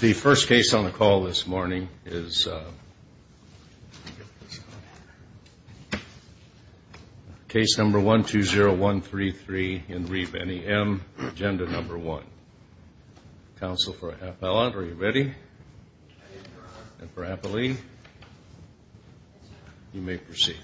The first case on the call this morning is case number 120133 in re Benny M. Agenda number one. Counsel for Appellant, are you ready? And for Appellee, you may proceed.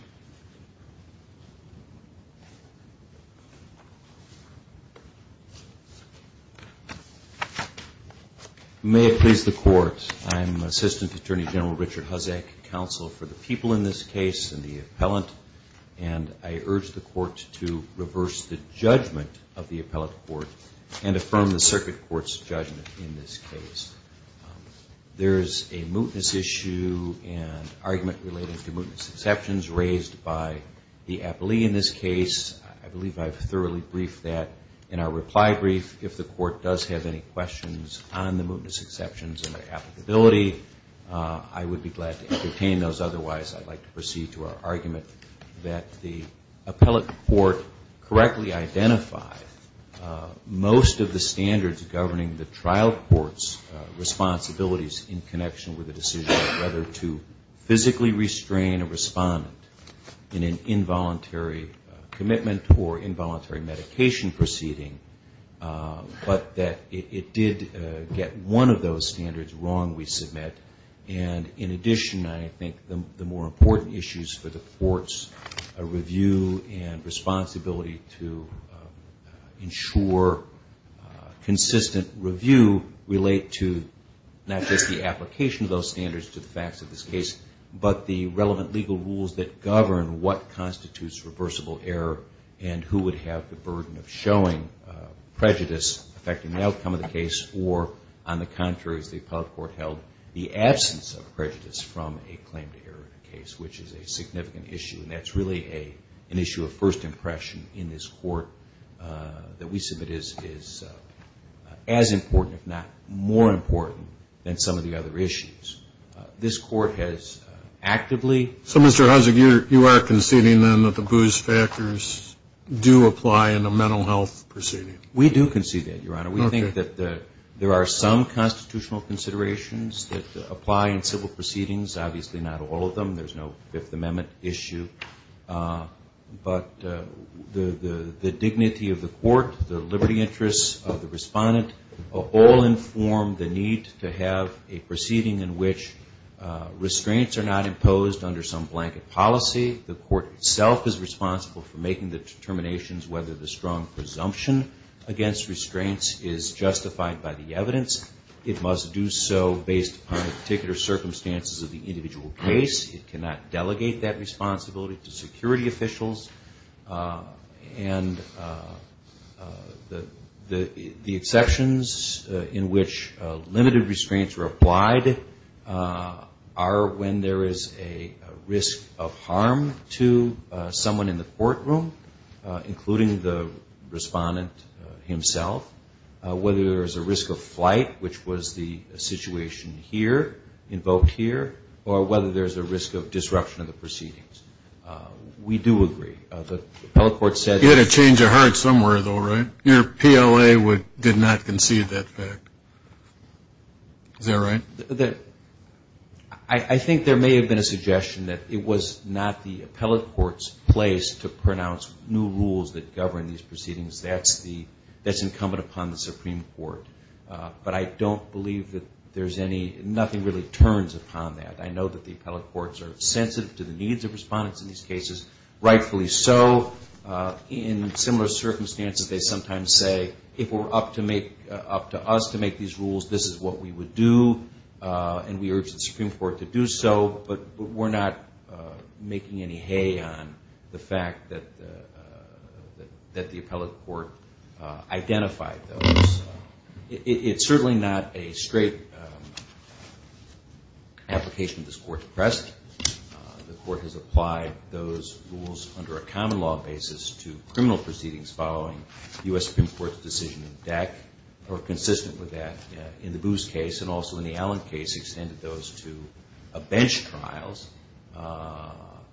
May it please the court, I am Assistant Attorney General Richard Hosek, Counsel for the people in this case and the appellant, and I urge the court to reverse the judgment of the appellate court and affirm the circuit court's judgment in this case. There is a mootness issue and argument relating to mootness exceptions raised by the appellee in this case. I believe I've thoroughly briefed that in our reply brief. If the court does have any questions on the mootness exceptions and their applicability, I would be glad to entertain those. If not, otherwise, I'd like to proceed to our argument that the appellate court correctly identified most of the standards governing the trial court's responsibilities in connection with the decision of whether to physically restrain a respondent in an involuntary commitment or involuntary medication proceeding, but that it did get one of those standards wrong, we submit. And in addition, I think the more important issues for the court's review and responsibility to ensure consistent review relate to not just the application of those standards to the facts of this case, but the relevant legal rules that govern what constitutes reversible error and who would have the burden of showing prejudice affecting the outcome of the case or, on the contrary, as the appellate court held, the absence of prejudice from a claim to error in a case, which is a significant issue. And that's really an issue of first impression in this court that we submit is as important, if not more important, than some of the other issues. This court has actively... So, Mr. Hunzik, you are conceding, then, that the booze factors do apply in a mental health proceeding? We do concede that, Your Honor. Okay. We do concede that there are some constitutional considerations that apply in civil proceedings. Obviously, not all of them. There's no Fifth Amendment issue. But the dignity of the court, the liberty interests of the respondent, all inform the need to have a proceeding in which restraints are not imposed under some blanket policy. The court itself is responsible for making the determinations whether the strong evidence is justified by the evidence. It must do so based on the particular circumstances of the individual case. It cannot delegate that responsibility to security officials. And the exceptions in which limited restraints are applied are when there is a risk of harm to someone in the proceeding. Whether there's a risk of flight, which was the situation here, invoked here, or whether there's a risk of disruption of the proceedings. We do agree. The appellate court said... You had a change of heart somewhere, though, right? Your PLA did not concede that fact. Is that right? I think there may have been a suggestion that it was not the appellate court's place to pronounce new rules that govern these cases. But I don't believe that there's any... Nothing really turns upon that. I know that the appellate courts are sensitive to the needs of respondents in these cases. Rightfully so. In similar circumstances, they sometimes say, if it were up to us to make these rules, this is what we would do. And we urge the Supreme Court to do so. But we're not making any hay on the fact that the appellate court identified those. It's certainly not a straight application this Court pressed. The Court has applied those rules under a common law basis to criminal proceedings following U.S. Supreme Court's decision in DECC, or consistent with that in the Boos case, and also in the Allen case, extended those to a bench trials.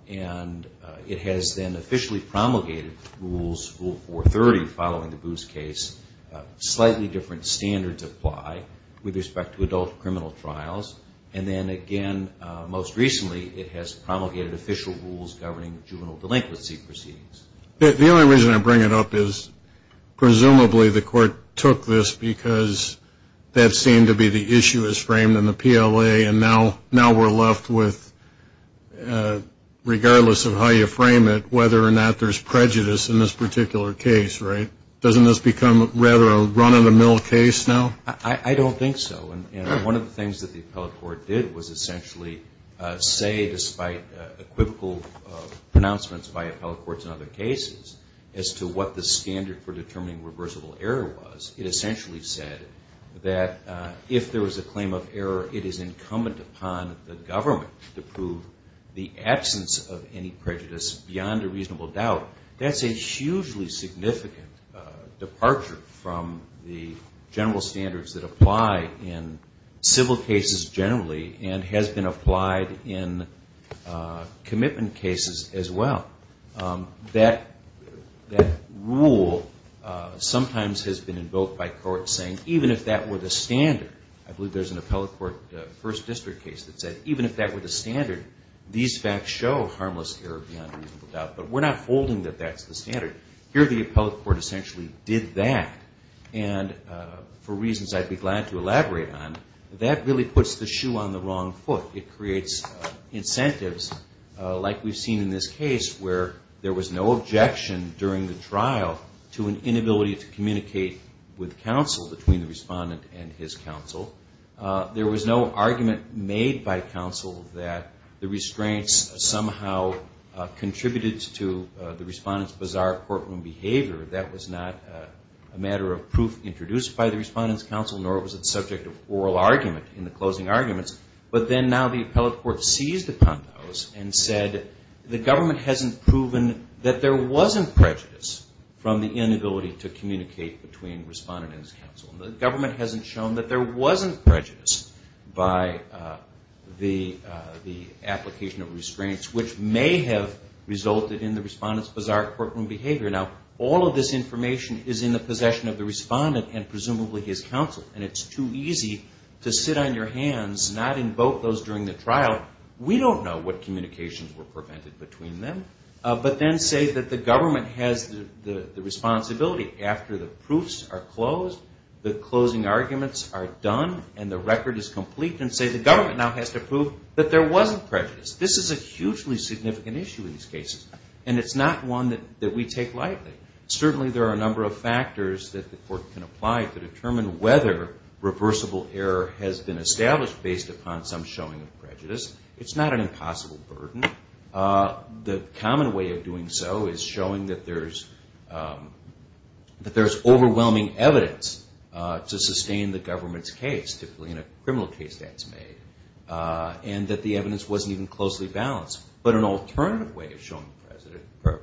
And it has then officially promulgated rules, Rule 430, following the Boos case, slightly different standards apply with respect to adult criminal trials. And then again, most recently, it has promulgated official rules governing juvenile delinquency proceedings. The only reason I bring it up is, presumably, the Court took this because that seemed to be the issue as framed in the PLA, and now we're left with, regardless of how you frame it, whether or not there's prejudice in this particular case, right? Doesn't this become rather a run-of-the-mill case now? I don't think so. And one of the things that the appellate court did was essentially say, despite equivocal pronouncements by appellate courts in other cases, as to what the standard for determining reversible error was, it essentially said that if there was a claim of error, it is incumbent upon the government to prove the absence of any prejudice beyond a reasonable doubt. That's a hugely significant departure from the general standards that apply in civil cases generally, and has been applied in commitment cases as well. That rule sometimes has been invoked by courts saying, even if that were the standard, I believe there's an appellate court first district case that said, even if that were the standard, these facts show harmless error beyond a reasonable doubt, but we're not holding that that's the standard. Here the appellate court essentially did that, and for reasons I'd be glad to elaborate on, that really puts the shoe on the wrong foot. It creates incentives, like we've seen in this case, where there was no objection during the trial to an inability to communicate with counsel between the defendant and counsel, and it was made by counsel that the restraints somehow contributed to the respondent's bizarre courtroom behavior that was not a matter of proof introduced by the respondent's counsel, nor was it subject of oral argument in the closing arguments, but then now the appellate court seized upon those and said, the government hasn't proven that there wasn't prejudice from the inability to communicate between the respondent and counsel by the application of restraints, which may have resulted in the respondent's bizarre courtroom behavior. Now, all of this information is in the possession of the respondent and presumably his counsel, and it's too easy to sit on your hands, not invoke those during the trial. We don't know what communications were prevented between them, but then say that the government has the responsibility after the proofs are closed, the closing arguments are complete, and say the government now has to prove that there wasn't prejudice. This is a hugely significant issue in these cases, and it's not one that we take lightly. Certainly there are a number of factors that the court can apply to determine whether reversible error has been established based upon some showing of prejudice. It's not an impossible burden. The common way of doing so is showing that there's overwhelming evidence to be made, and that the evidence wasn't even closely balanced. But an alternative way of showing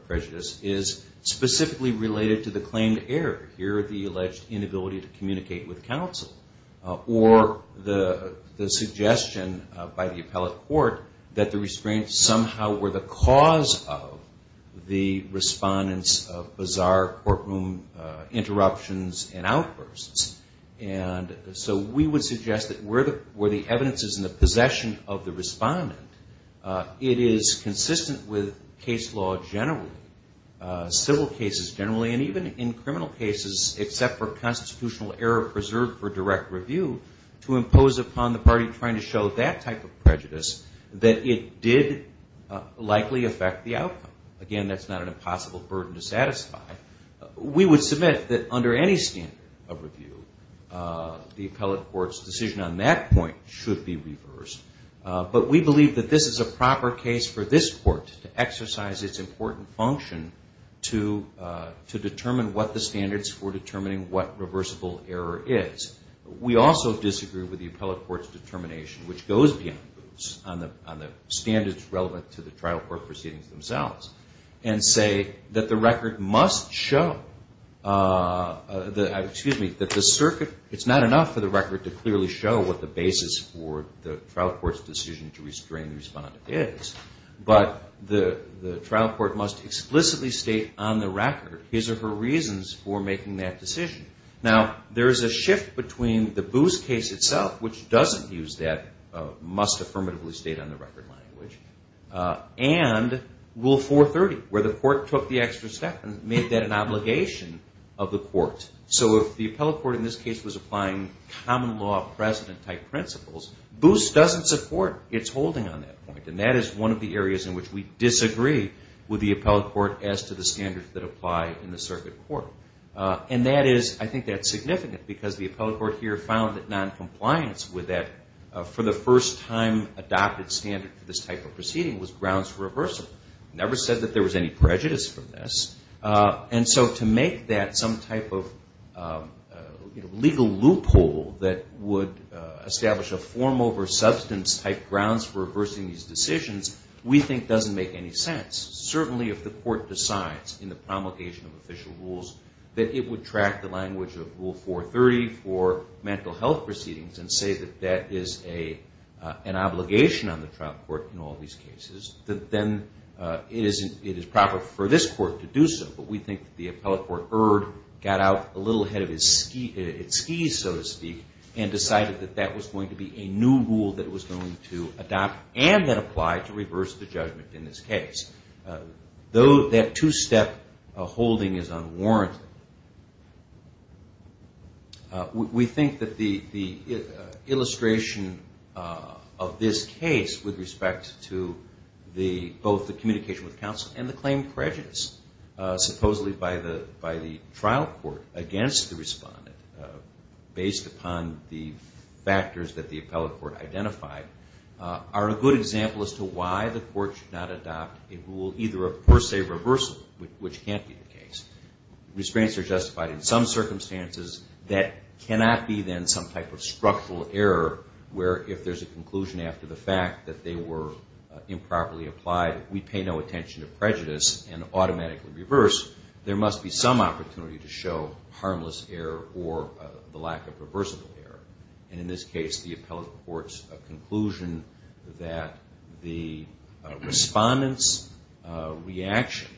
prejudice is specifically related to the claimed error. Here the alleged inability to communicate with counsel, or the suggestion by the appellate court that the restraints somehow were the cause of the respondents' bizarre courtroom interruptions and outbursts. And so we would suggest that we're the court that has the ability to communicate with counsel where the evidence is in the possession of the respondent. It is consistent with case law generally, civil cases generally, and even in criminal cases except for constitutional error preserved for direct review to impose upon the party trying to show that type of prejudice that it did likely affect the outcome. Again, that's not an impossible burden to satisfy. We would submit that under any standard of review, the appellate court's decision on that point should be reversed. But we believe that this is a proper case for this court to exercise its important function to determine what the standards for determining what reversible error is. We also disagree with the appellate court's determination, which goes beyond the standards relevant to the trial court proceedings themselves, and say that the circuit, it's not enough for the record to clearly show that the basis for the trial court's decision to restrain the respondent is, but the trial court must explicitly state on the record his or her reasons for making that decision. Now, there's a shift between the Boos case itself, which doesn't use that must affirmatively state on the record language, and Rule 430, where the court took the extra step and made that an obligation of the court. So if the appellate court in this case was applying common law precedent-type principles, Boos doesn't support its holding on that point. And that is one of the areas in which we disagree with the appellate court as to the standards that apply in the circuit court. And that is, I think that's significant, because the appellate court here found that noncompliance with that, for the first time adopted standard for this type of proceeding, was grounds for reversal. Never said that there was any prejudice from this. And so to make that some type of, you know, legally unconstitutional, legal loophole that would establish a form over substance-type grounds for reversing these decisions, we think doesn't make any sense. Certainly if the court decides in the promulgation of official rules that it would track the language of Rule 430 for mental health proceedings and say that that is an obligation on the trial court in all these cases, then it is proper for this court to do so. But we think the appellate court erred, got out a little ahead of its skis, so to speak, and decided that that was going to be a new rule that was going to adopt and then apply to reverse the judgment in this case. Though that two-step holding is unwarranted, we think that the illustration of this case with respect to both the communication with counsel and the claimed prejudice, supposedly by the trial court against the respondent based upon the factors that the appellate court identified, are a good example as to why the court should not adopt a rule either of per se reversal, which can't be the case. The restraints are justified in some circumstances that cannot be then some type of structural error where if there's a conclusion after the fact that they were improperly applied, we pay no attention to prejudice and automatically reverse, there must be some opportunity to show harmless error or the lack of reversible error. And in this case the appellate court's conclusion that the respondent's reaction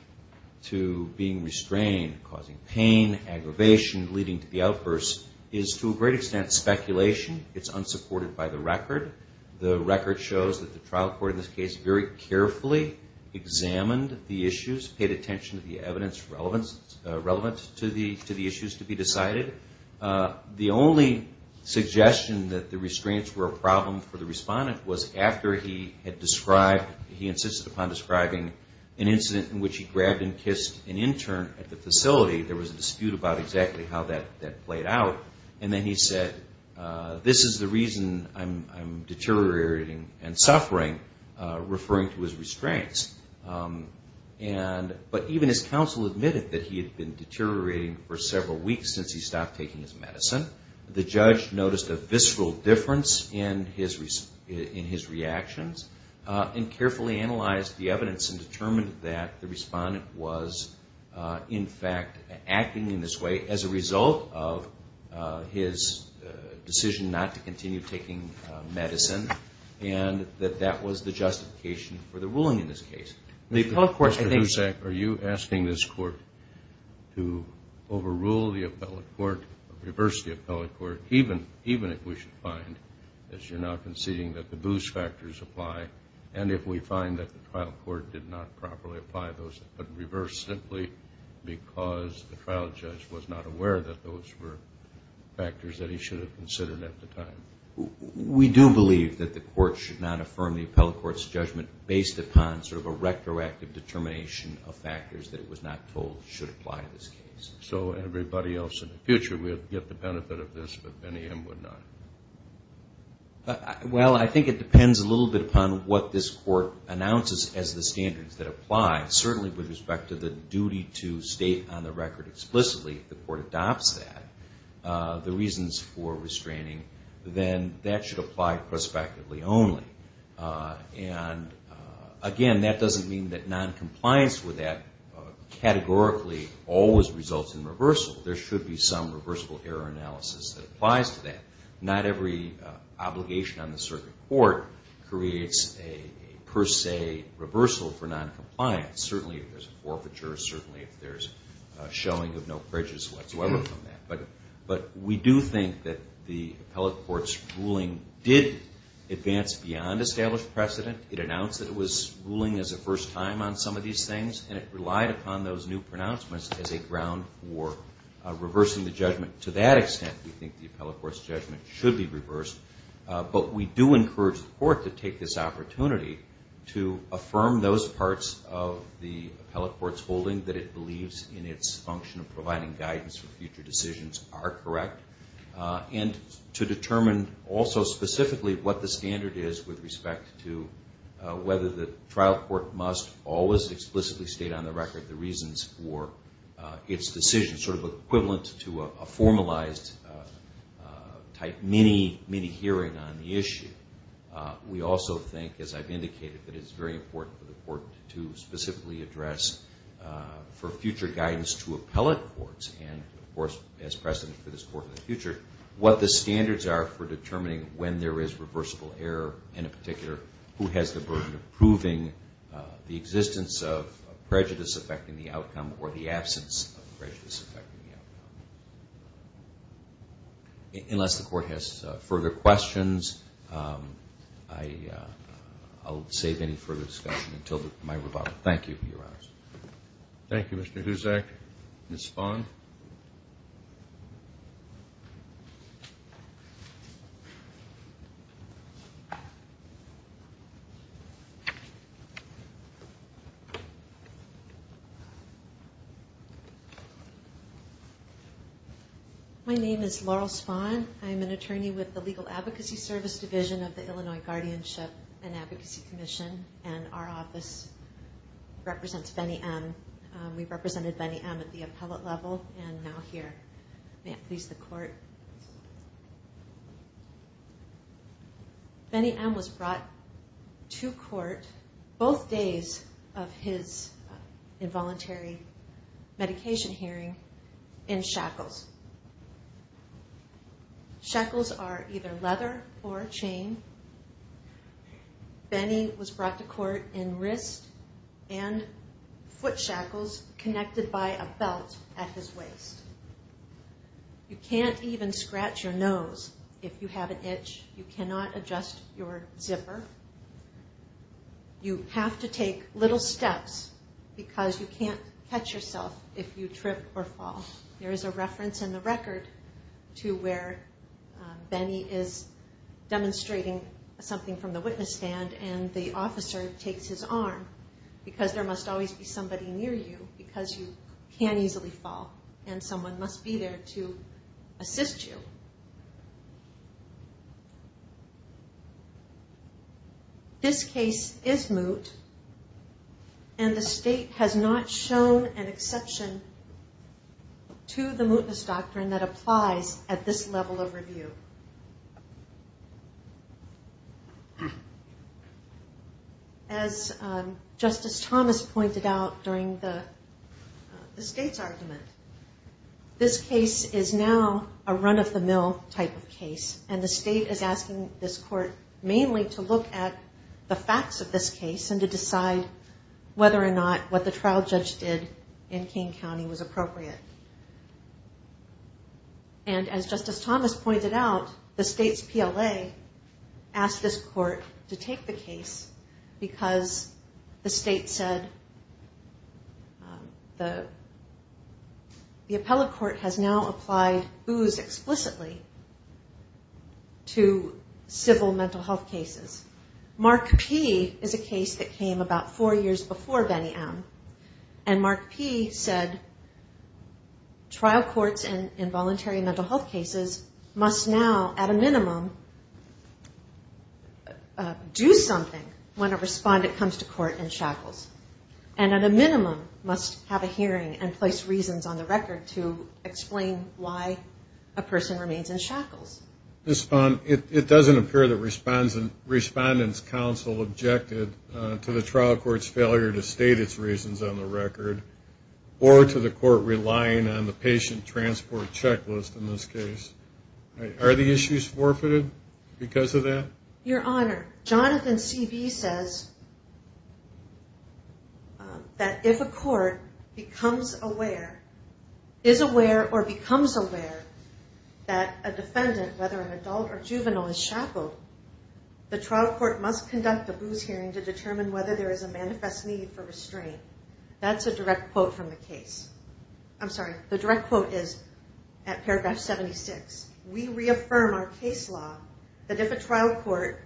to being restrained, causing pain, aggravation, leading to the outburst, is to a great extent speculation. It's unsupported by the record. The record shows that the trial court in this case very carefully examined the issues, paid attention to the evidence relevant to the issues to be decided. The only suggestion that the restraints were a problem for the respondent was after he had described, he insisted upon describing an incident in which he grabbed and kissed an intern at the facility, there was a dispute about exactly how that played out, and then he said, this is the reason I'm deteriorating and suffering, referring to his restraints. But even his counsel admitted that he had been deteriorating for several weeks since he stopped taking his medicine. The judge noticed a visceral difference in his reactions and carefully analyzed the evidence and determined that the respondent was in fact acting in this way as a result of his decision not to continue taking medicine and that that was the justification for the ruling in this case. The appellate court, I think, Mr. Dusak, are you asking this court to overrule the appellate court, reverse the appellate court, even if we should find, as you're now conceding, that the boost factors apply, and if we find that the trial court did not properly apply those, but reverse simply because the trial judge was not aware that those were factors that he should have considered at the time? We do believe that the court should not affirm the appellate court's judgment based upon sort of a retroactive determination of factors that it was not told should apply to this case. So everybody else in the future will get the benefit of this, but Benny M. would not. Well, I think it depends a little bit upon what this court announces as the standards that apply, certainly with respect to the duty to state on the record explicitly if the court adopts that, the reasons for restraining, then that should apply prospectively only. And again, that doesn't mean that noncompliance with that categorically always results in reversal. There should be some reversible error analysis that applies to that. Not every obligation on the court is a reversal for noncompliance, certainly if there's a forfeiture, certainly if there's a showing of no prejudice whatsoever from that. But we do think that the appellate court's ruling did advance beyond established precedent. It announced that it was ruling as a first time on some of these things, and it relied upon those new pronouncements as a ground for reversing the judgment. To that extent, we think the appellate court's ruling should be reversed, but we do encourage the court to take this opportunity to affirm those parts of the appellate court's holding that it believes in its function of providing guidance for future decisions are correct, and to determine also specifically what the standard is with respect to whether the trial court must always explicitly state on the record the reasons for its decision, sort of equivalent to a mini-hearing on the issue. We also think, as I've indicated, that it's very important for the court to specifically address for future guidance to appellate courts and, of course, as precedent for this court in the future, what the standards are for determining when there is reversible error, and in particular, who has the burden of proving the existence of prejudice affecting the outcome or the absence of prejudice affecting the outcome. Unless the court has further questions, I'll save any further discussion until my rebuttal. Thank you, Your Honor. Thank you, Mr. Huzak. Ms. Fong? My name is Laurel Fong. I'm an attorney with the Legal Advocacy Service Division of the Illinois Guardianship and Advocacy Commission, and our office represents Benny M. We represented Benny M. at the appellate level and now here. May it please the court. Benny M. was brought to court both days of his involuntary medication hearing in shackles. Shackles are either leather or chain. Benny was brought to court in wrist and foot shackles connected by a belt at his waist. You can't even scratch your nose if you have an itch. You cannot adjust your zipper. You cannot adjust your seat. You have to take little steps because you can't catch yourself if you trip or fall. There is a reference in the record to where Benny is demonstrating something from the witness stand, and the officer takes his arm because there must always be somebody near you because you can't easily fall, and someone must be there to assist you. This case isn't a case where you can't easily fall. It's a case where you can't easily fall. This case is moot, and the state has not shown an exception to the mootness doctrine that applies at this level of review. As Justice Thomas pointed out during the state's argument, this case is now a run-of-the-mill type of case, and the state is asking this case and to decide whether or not what the trial judge did in King County was appropriate. And as Justice Thomas pointed out, the state's PLA asked this court to take the case because the state said the appellate court has now applied boos explicitly to civil mental health cases. Mark P. is a case that came about four years before Benny M., and Mark P. said trial courts and involuntary mental health cases must now at a minimum do something when a respondent comes to court in shackles, and at a minimum must have a hearing and place reasons on the record to explain why a person remains in shackles. And the respondent's counsel objected to the trial court's failure to state its reasons on the record, or to the court relying on the patient transport checklist in this case. Are the issues forfeited because of that? Your Honor, Jonathan C. B. says that if a court becomes aware, is aware, or becomes aware that a defendant, whether an adult or juvenile, is shackled, the trial court must conduct a boos hearing to determine whether there is a manifest need for restraint. That's a direct quote from the case. I'm sorry. The direct quote is at paragraph 76. We reaffirm our case law that if a trial court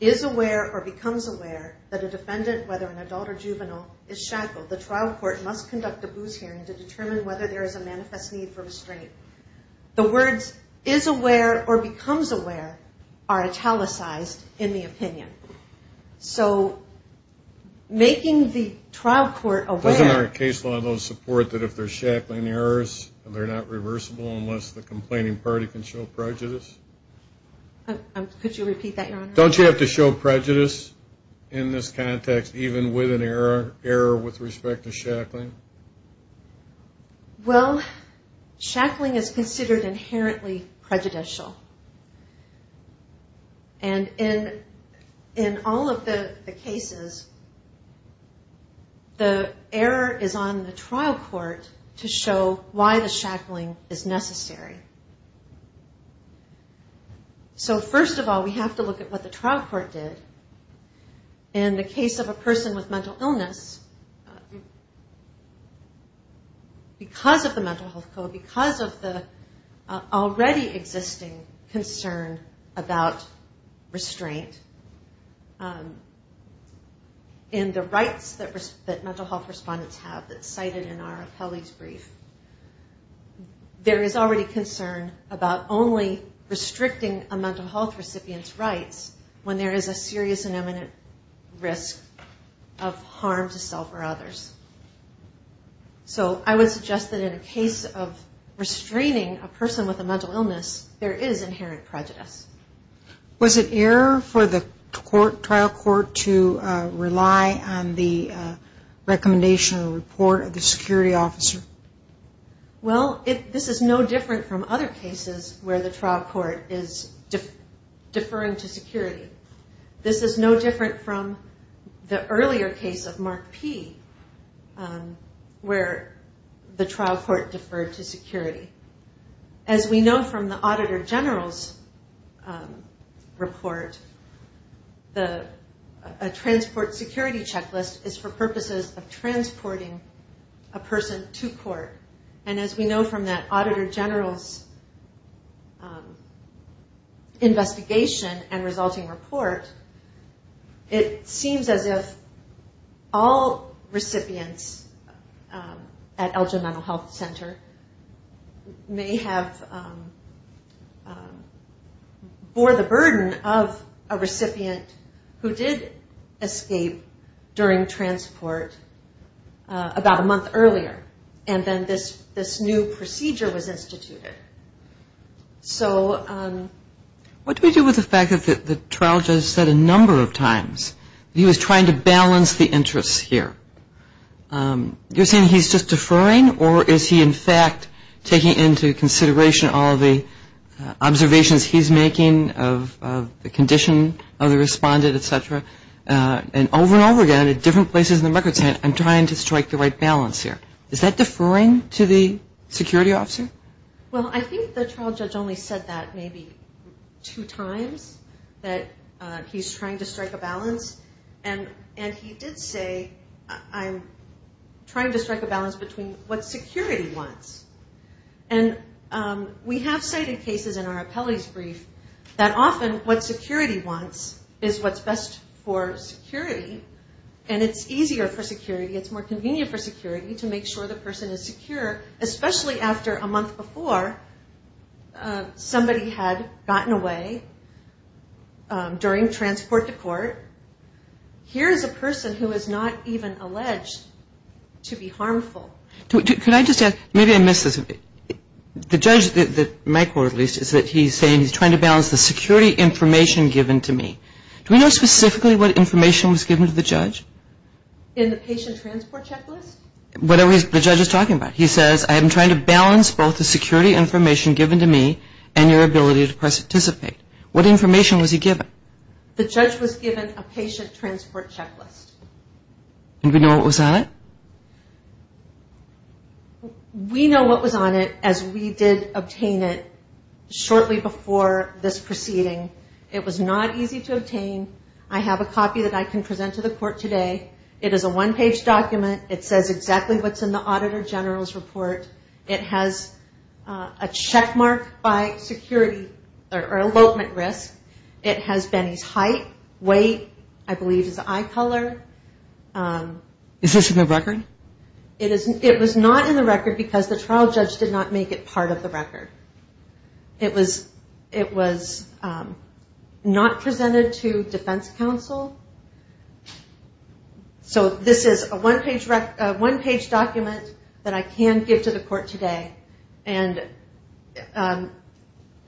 is aware or becomes aware that a defendant, whether an adult or juvenile, is shackled, the trial court must conduct a boos hearing to determine whether there is a manifest need for restraint. The words, is aware or becomes aware, are italicized in this case. The trial court must conduct a boos hearing to determine whether a defendant is shackled. That's in the opinion. So making the trial court aware... Doesn't our case law support that if there's shackling errors, they're not reversible unless the complaining party can show prejudice? Could you repeat that, Your Honor? Don't you have to show prejudice in this context, even with an error, error with respect to shackling? Well, shackling is considered inherently prejudicial. And in the case of shackling, it's considered inherently prejudicial. And in the case of shackling, in all of the cases, the error is on the trial court to show why the shackling is necessary. So first of all, we have to look at what the trial court did. In the case of a person with mental illness, because of the mental health code, because of the already existing concern about restraint, in the rights that mental health respondents have that's cited in our appellee's brief, there is already concern about only restricting a mental health recipient's rights when there is a serious and imminent risk of harm to self or others. So I would suggest that in a case like this, there is no need for the trial court to show prejudice. Was it error for the trial court to rely on the recommendation or report of the security officer? Well, this is no different from other cases where the trial court is deferring to security. This is no different from the earlier case of Mark P where the trial court deferred to security. As we know from the Auditor General's report, a transport security checklist is for purposes of transporting a person to court. And as we know from that Auditor General's investigation and resulting report, it seems as if all recipients at Elgin Mental Health Center may have been subject to a procedure that bore the burden of a recipient who did escape during transport about a month earlier. And then this new procedure was instituted. So what do we do with the fact that the trial judge said a number of times that he was trying to balance the interests here? You're saying he's just deferring, or is he in fact taking into consideration all the observations he's making, or is he just taking into consideration the condition of the respondent, etc. And over and over again at different places in the records, saying I'm trying to strike the right balance here. Is that deferring to the security officer? Well, I think the trial judge only said that maybe two times that he's trying to strike a balance. And he did say I'm trying to strike a balance between what security wants. And we have demonstrated cases in our appellee's brief that often what security wants is what's best for security. And it's easier for security. It's more convenient for security to make sure the person is secure, especially after a month before somebody had gotten away during transport to court. Here is a person who is not even alleged to be harmful. Can I just ask, maybe I missed this a bit. The judge, in my court at least, is saying he's trying to balance the security information given to me. Do we know specifically what information was given to the judge? In the patient transport checklist? Whatever the judge is talking about. He says I'm trying to balance both the security information given to me and your ability to participate. What information was he given? The judge was given a patient transport checklist. And we know what was on it? We know what was on it as we did obtain it shortly before this proceeding. It was not easy to obtain. I have a copy that I can present to the court today. It is a one page document. It says exactly what's in the Auditor General's report. It has a check mark by security or elopement risk. It has Benny's height, weight, I believe his eye color. Is this a new record? It is a new record. It was not in the record because the trial judge did not make it part of the record. It was not presented to defense counsel. So this is a one page document that I can give to the court today. And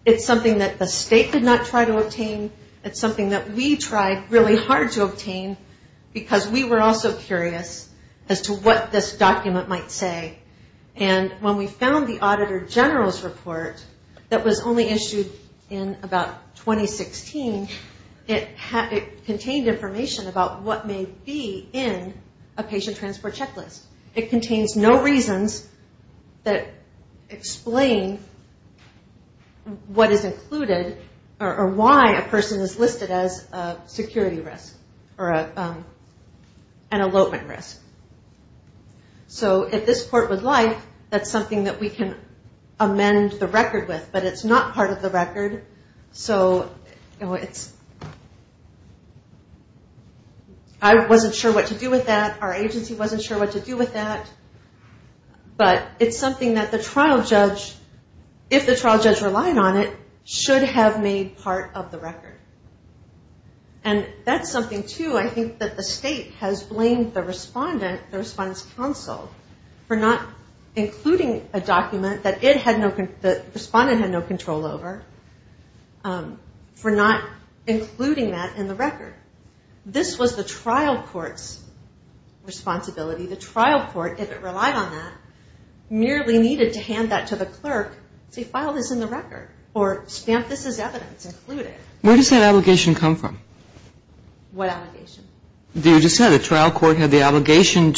it's something that the state did not try to obtain. It's something that we tried really hard to obtain because we were also curious as to what this document might say. And when we found the Auditor General's report that was only issued in about 2016, it contained information about what may be in a patient transport checklist. It contains no reasons that explain what is included or why a person is listed as a security risk or an elopement risk. So if this court would like, that's something that we can amend the record with. But it's not part of the record. I wasn't sure what to do with that. Our agency wasn't sure what to do with that. But it's something that the trial judge, if the trial judge relied on it, should have made part of the record. And that's something that we can amend the record with. And it's interesting too, I think that the state has blamed the respondent, the respondent's counsel, for not including a document that the respondent had no control over, for not including that in the record. This was the trial court's responsibility. The trial court, if it relied on that, merely needed to hand that to the clerk, say file this in the record, or stamp this as evidence, include it. That was the trial court's obligation.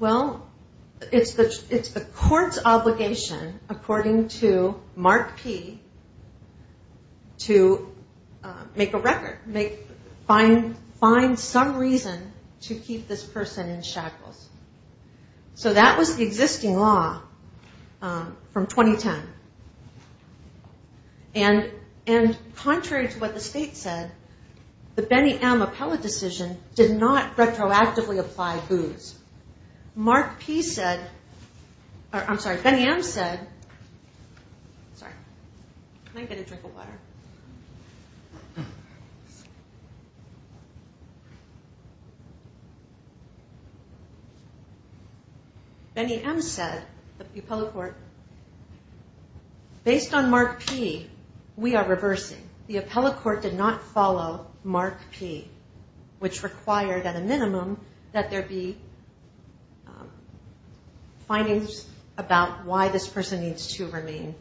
Well, it's the court's obligation, according to Mark P, to make a record, find some reason to keep this person in shackles. So that was the existing law from 2010. And Congress, I don't know if you've heard of it, but Congress passed a law that contrary to what the state said, the Benny M. Appellate decision did not retroactively apply BOOS. Mark P said, I'm sorry, Benny M. said, sorry, can I get a drink of water? Benny M. said, the appellate court, based on Mark P, we are reversing. The appellate court did not follow Mark P, which required, at a minimum, that there be findings about why this person needs to remain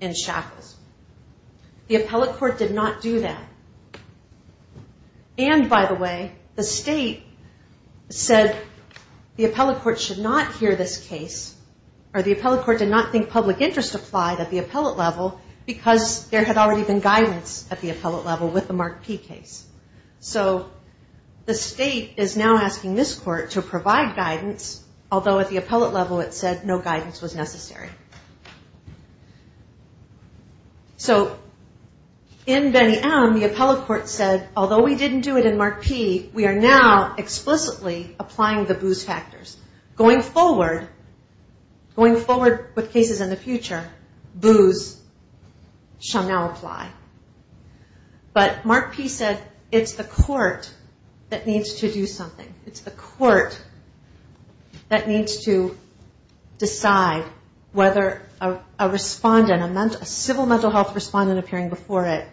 in shackles. The appellate court did not do that. And, by the way, the state said the appellate court should not hear this case, or the appellate court did not think public interest applied at the appellate level, because there had already been guidance at the appellate level with the Mark P case. So the state is now asking this court to provide guidance, although at the appellate level it said no guidance was necessary. So in Benny M., the appellate court said, although we didn't do it in Mark P, we are now explicitly applying the BOOS factors. Going forward, going forward with cases in the future, BOOS shall now apply. But Mark P said, it's the court that needs to do something. It's the court that needs to decide whether a respondent, a civil mental health respondent appearing before it,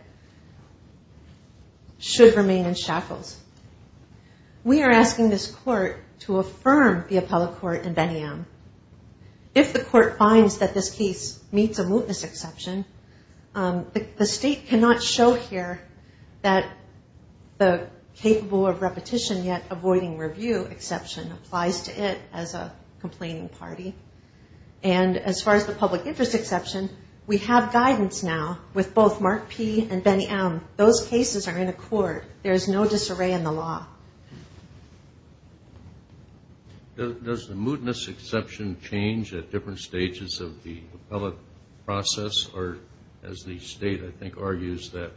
should remain in shackles. We are asking this court to affirm the appellate court in Benny M. If the court finds that this case meets a mootness exception, the state should not hear this case. The state cannot show here that the capable of repetition yet avoiding review exception applies to it as a complaining party. And as far as the public interest exception, we have guidance now with both Mark P. and Benny M. Those cases are in accord. There is no disarray in the law. Does the mootness exception change at different stages of the appellate process, or as the state, I think, has decided? Or as the state argues that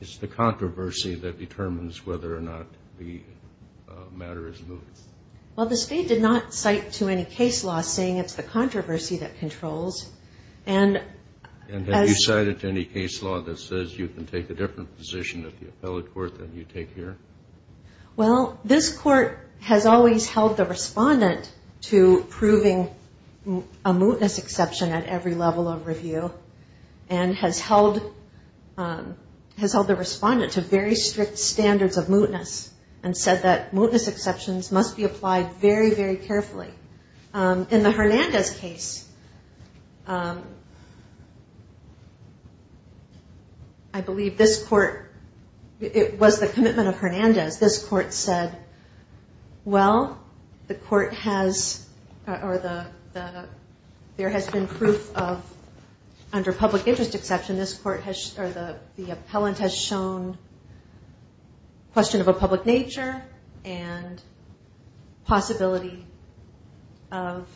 it's the controversy that determines whether or not the matter is moot? Well, the state did not cite to any case law saying it's the controversy that controls. And have you cited to any case law that says you can take a different position at the appellate court than you take here? Well, this court has always held the respondent to proving a mootness exception at every level of review, and has held the respondent to very strict standards of mootness and said that mootness exceptions must be applied very, very carefully. In the Hernandez case, I believe this court, it was the commitment of Hernandez, this court said, well, the court has, or there has been proof of, under public interest exception, this court has, or the appellant has shown question of a public nature and possibility of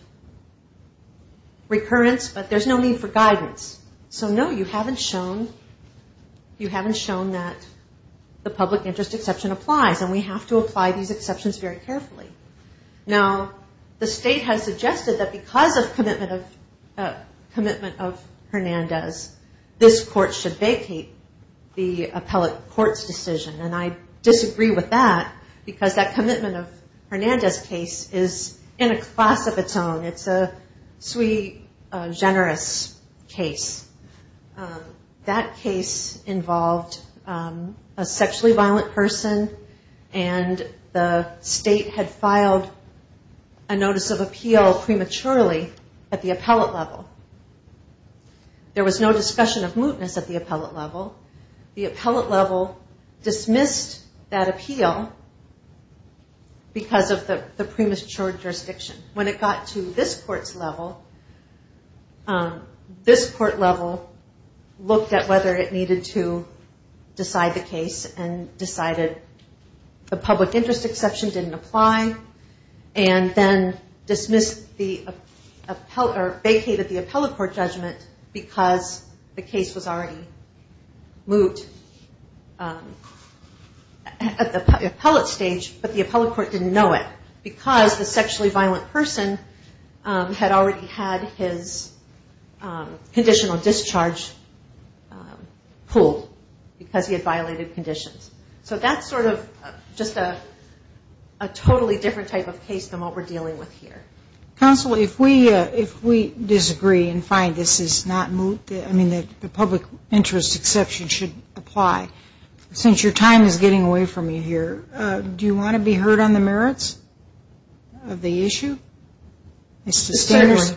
recurrence, but there's no need for guidance. So, no, you haven't shown, you haven't shown that the public interest exception applies. And we have to apply these exceptions very carefully. Now, the state has suggested that because of commitment of public interest exception, because of commitment of Hernandez, this court should vacate the appellate court's decision. And I disagree with that, because that commitment of Hernandez case is in a class of its own. It's a sui generis case. That case involved a sexually violent person, and the state had filed a notice of appeal prematurely at the appellate level. And the state had filed a notice of appeal prematurely at the appellate level. There was no discussion of mootness at the appellate level. The appellate level dismissed that appeal because of the premature jurisdiction. When it got to this court's level, this court level looked at whether it needed to decide the case and decided the public interest exception didn't apply, and then dismissed the, or vacated the appellate level, and then dismissed the, or vacated the appellate level, and then dismissed the, or vacated the appellate level, and then dismissed the appellate court judgment because the case was already moot at the appellate stage, but the appellate court didn't know it, because the sexually violent person had already had his conditional discharge pulled, because he had violated conditions. So that's sort of just a totally different type of case than what we're dealing with here. And I can find this is not moot. I mean, the public interest exception should apply. Since your time is getting away from you here, do you want to be heard on the merits of the issue? Ms. Standers?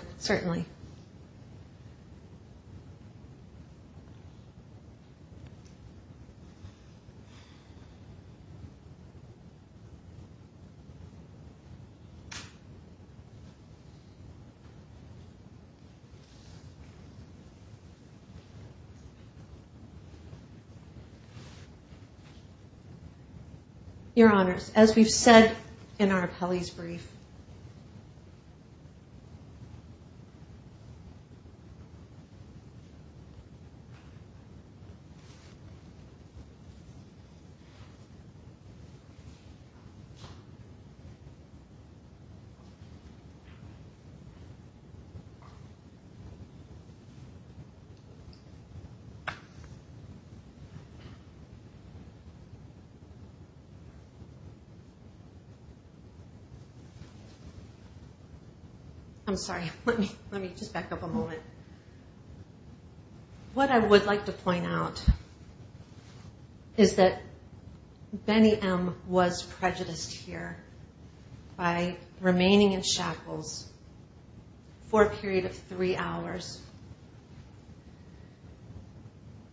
Your Honors, as we've said in our appellee's brief... I'm sorry. Let me just back up a moment. What I would like to point out is that Benny M. was prejudiced here by remaining in shackles for a period of three hours.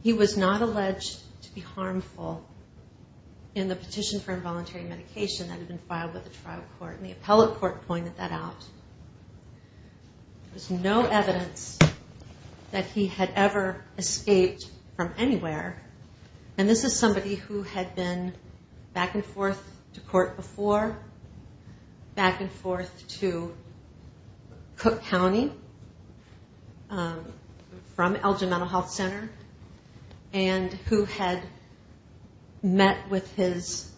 He was not alleged to be harmful in the petition for involuntary medication that had been filed with the trial court, and the appellate court pointed that out. There was no evidence that he had ever escaped from anywhere, and this is somebody who had been back and forth to court before, back and forth to court again, and back and forth to court again, and back and forth to court again, and was a man from Cook County from Elgin Mental Health Center, and who had met with his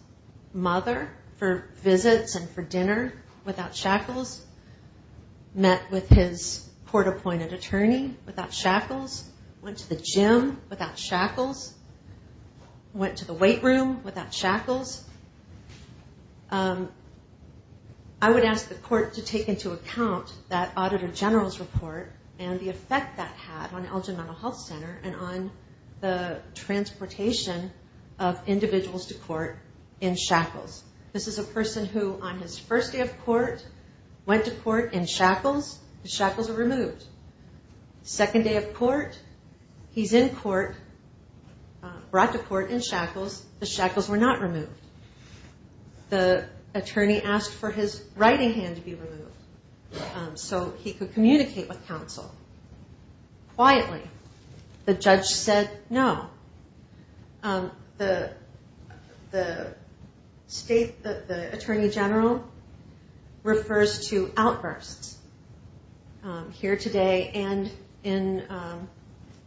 mother for visits and for dinner without shackles, met with his court-appointed attorney without shackles, went to the gym without shackles, went to the weight room without shackles. I would ask the appellate court to look at Auditor General's report and the effect that had on Elgin Mental Health Center and on the transportation of individuals to court in shackles. This is a person who, on his first day of court, went to court in shackles. The shackles were removed. The second day of court, he's in court, brought to court in shackles. The shackles were not removed. The attorney asked for his writing hand to be removed. So he could communicate with counsel quietly. The judge said no. The attorney general refers to outbursts here today and in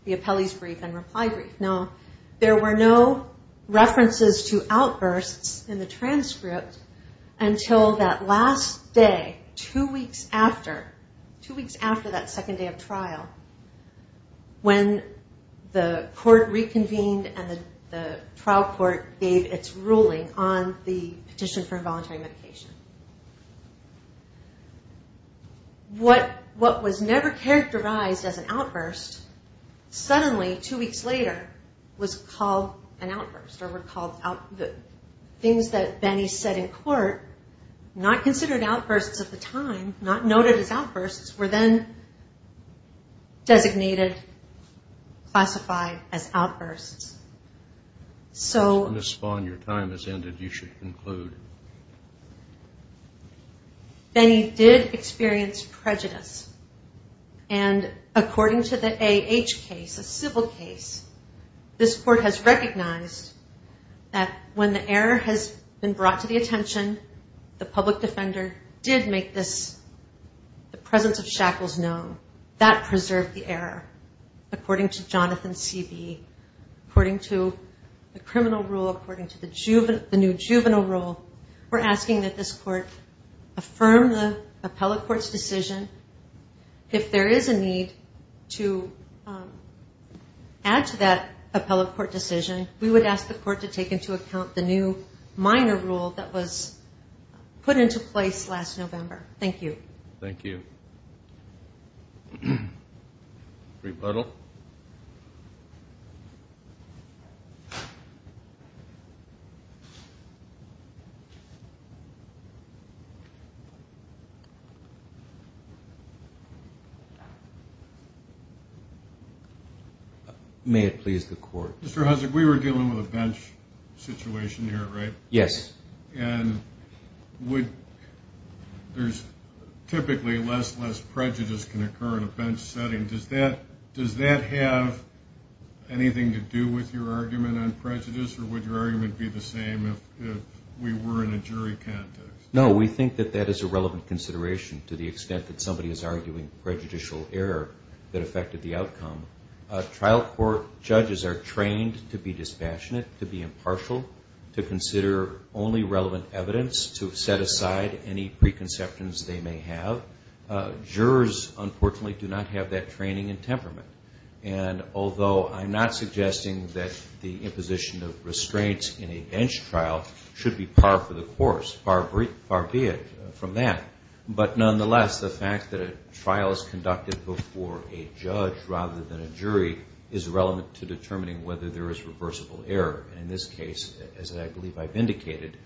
the appellee's brief and reply brief. Now, there were no references to outbursts in the transcript until that last day, two weeks after the second day of trial, when the court reconvened and the trial court gave its ruling on the petition for involuntary medication. What was never characterized as an outburst, suddenly, two weeks later, was called an outburst or were called things that Benny said in court, not considered outbursts at the time, not noted as outbursts, were then designated, classified as outbursts. So... When this spawn, your time has ended, you should conclude. Benny did experience prejudice and according to the AH case, a civil case, this court has recognized that when the error has been brought to the attention, the public defense attorney has been brought to the attention, the public defender did make this, the presence of shackles known. That preserved the error. According to Jonathan C.B., according to the criminal rule, according to the new juvenile rule, we're asking that this court affirm the appellate court's decision. If there is a need to add to that appellate court decision, we would ask the court to take into account the new minor rule that was put into place last November. Thank you. Thank you. Rebuttal. May it please the court. Mr. Hussack, we were dealing with a bench situation here, right? Yes. And would, there's typically less, less prejudice can occur in a bench setting. Does that have anything to do with your argument on prejudice or would your argument be the same if we were in a jury context? No, we think that that is a relevant consideration to the extent that somebody is arguing prejudicial error that affected the outcome. Trial court judges are trained to be impartial, to consider only relevant evidence, to set aside any preconceptions they may have. Jurors, unfortunately, do not have that training and temperament. And although I'm not suggesting that the imposition of restraints in a bench trial should be par for the course, far be it from that. But nonetheless, the fact that a trial is conducted before a judge rather than a jury is relevant to the case as I believe I've indicated.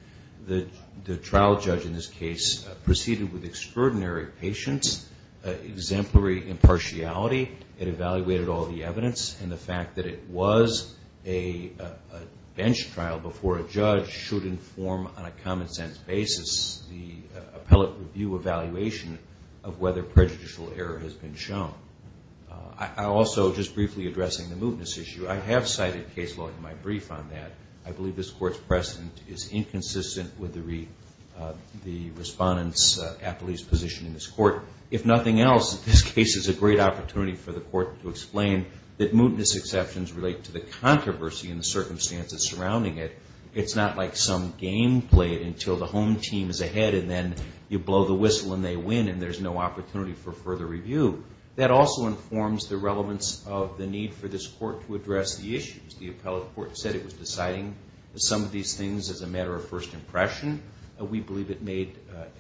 The trial judge in this case proceeded with extraordinary patience, exemplary impartiality. It evaluated all the evidence and the fact that it was a bench trial before a judge should inform on a common sense basis the appellate review evaluation of whether prejudicial error has been shown. I also, just briefly addressing the mootness issue, I have cited case law in my brief on that. I believe this court's precedent is inconsistent with the respondent's appellee's position in this court. If nothing else, this case is a great opportunity for the court to explain that mootness exceptions relate to the controversy and the circumstances surrounding it. It's not like some game played until the home team is ahead and then you blow the whistle and they win and there's no opportunity for further review. That also informs the relevance of the need for this court to address the issues. The appellate court said it was deciding some of these things as a matter of first impression. We believe it made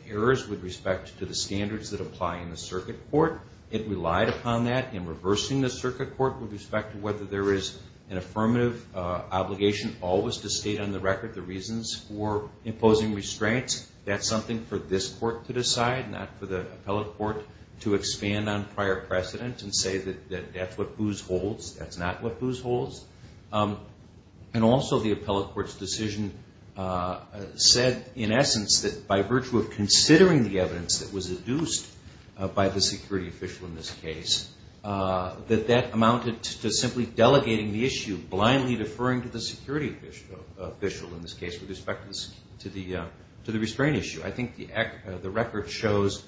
errors with respect to the standards that apply in the circuit court. It relied upon that in reversing the circuit court with respect to whether there is an affirmative obligation always to state on the record the reasons for imposing restraints. That's something for this court to decide, not for the appellate court to expand on prior precedent and say that that's what whose holds, that's not what whose holds. And also the appellate court's decision said in essence that by virtue of considering the evidence that was induced by the security official in this case, that that amounted to simply delegating the issue, blindly deferring to the security official in this case with respect to the restraint issue. I think the record shows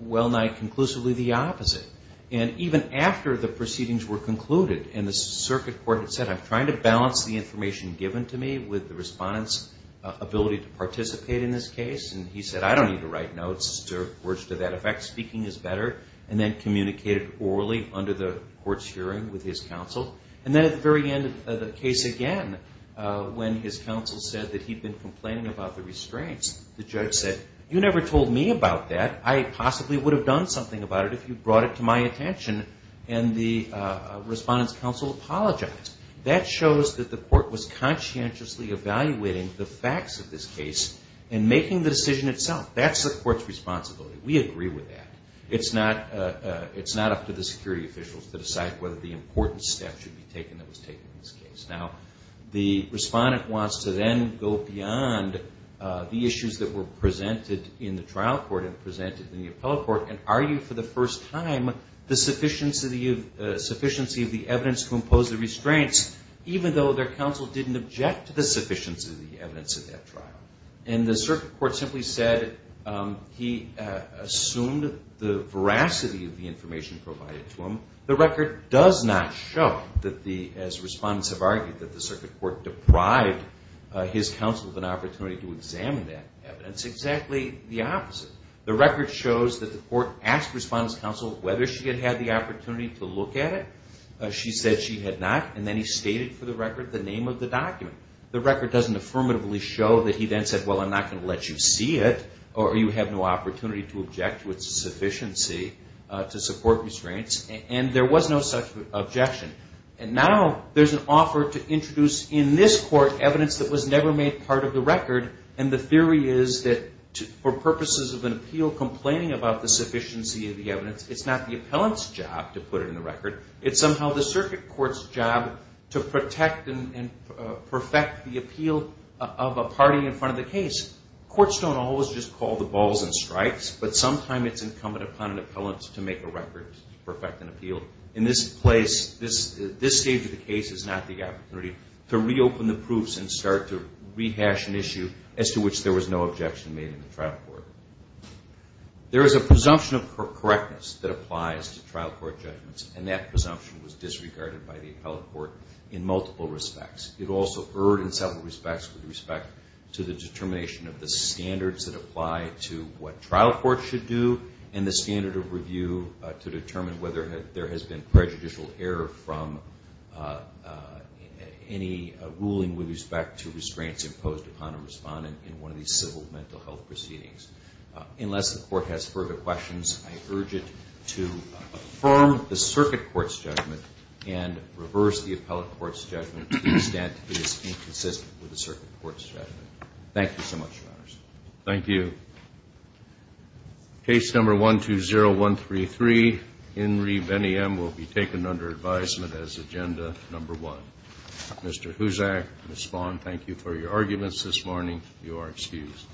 well-nigh conclusively the opposite. And even after the proceedings were concluded and the circuit court had said I'm trying to balance the information given to me with the respondent's ability to participate in this case. And he said I don't need to write notes or words to that effect. Speaking is better. And then communicated orally under the court's hearing with his counsel. And then at the very end of the case again, when his counsel said that he'd been complaining about the restraints, the judge said you never told me about that. I possibly would have done something about it if you brought it to my attention. And the respondent's counsel apologized. That shows that the court was conscientiously evaluating the facts of this case and making the decision itself. That's the court's responsibility. We agree with that. It's not up to the security officials to decide whether the important steps should be taken that was taken in this case. Now the respondent wants to then go beyond the issues that were presented in the trial court and presented in the appellate court and argue for the first time the sufficiency of the evidence to impose the restraints even though their counsel didn't object to the sufficiency of the evidence of that trial. And the circuit court simply said he assumed the veracity of the information provided to him. The record does not show that the, as respondents have argued, that the circuit court deprived his counsel of an opportunity to examine that evidence. It's exactly the opposite. The record shows that the court asked the respondent's counsel whether she had had the opportunity to look at it. She said she had not. And then he stated for the record the name of the document. The record doesn't affirmatively show that he then said, well, I'm not going to let you see it or you have no opportunity to object to its sufficiency to support restraints. And there was no such objection. And now there's an offer to introduce in this court evidence that was never made part of the record. And the theory is that for purposes of an appeal complaining about the sufficiency of the evidence, it's not the appellant's job to put it in the record. It's somehow the circuit court's job to protect and perfect the appeal of a party in front of the case. Courts don't always just call the balls and strikes, but sometimes it's incumbent upon an appellant to make a record to perfect an appeal. In this place, this stage of the case is not the opportunity to reopen the proofs and start to rehash the evidence and to rehash an issue as to which there was no objection made in the trial court. There is a presumption of correctness that applies to trial court judgments, and that presumption was disregarded by the appellate court in multiple respects. It also erred in several respects with respect to the determination of the standards that apply to what trial courts should do and the standard of review to determine whether there has been prejudicial error from any ruling with respect to restraints imposed upon a respondent in one of these civil mental health proceedings. Unless the court has further questions, I urge it to affirm the circuit court's judgment and reverse the appellate court's judgment to the extent it is inconsistent with the circuit court's judgment. Thank you so much, Your Honors. Thank you. Case number 120133, Henry Beniam, will be taken under advisement as agenda number one. Mr. Huzak, Ms. Spahn, thank you for your arguments this morning. You are excused.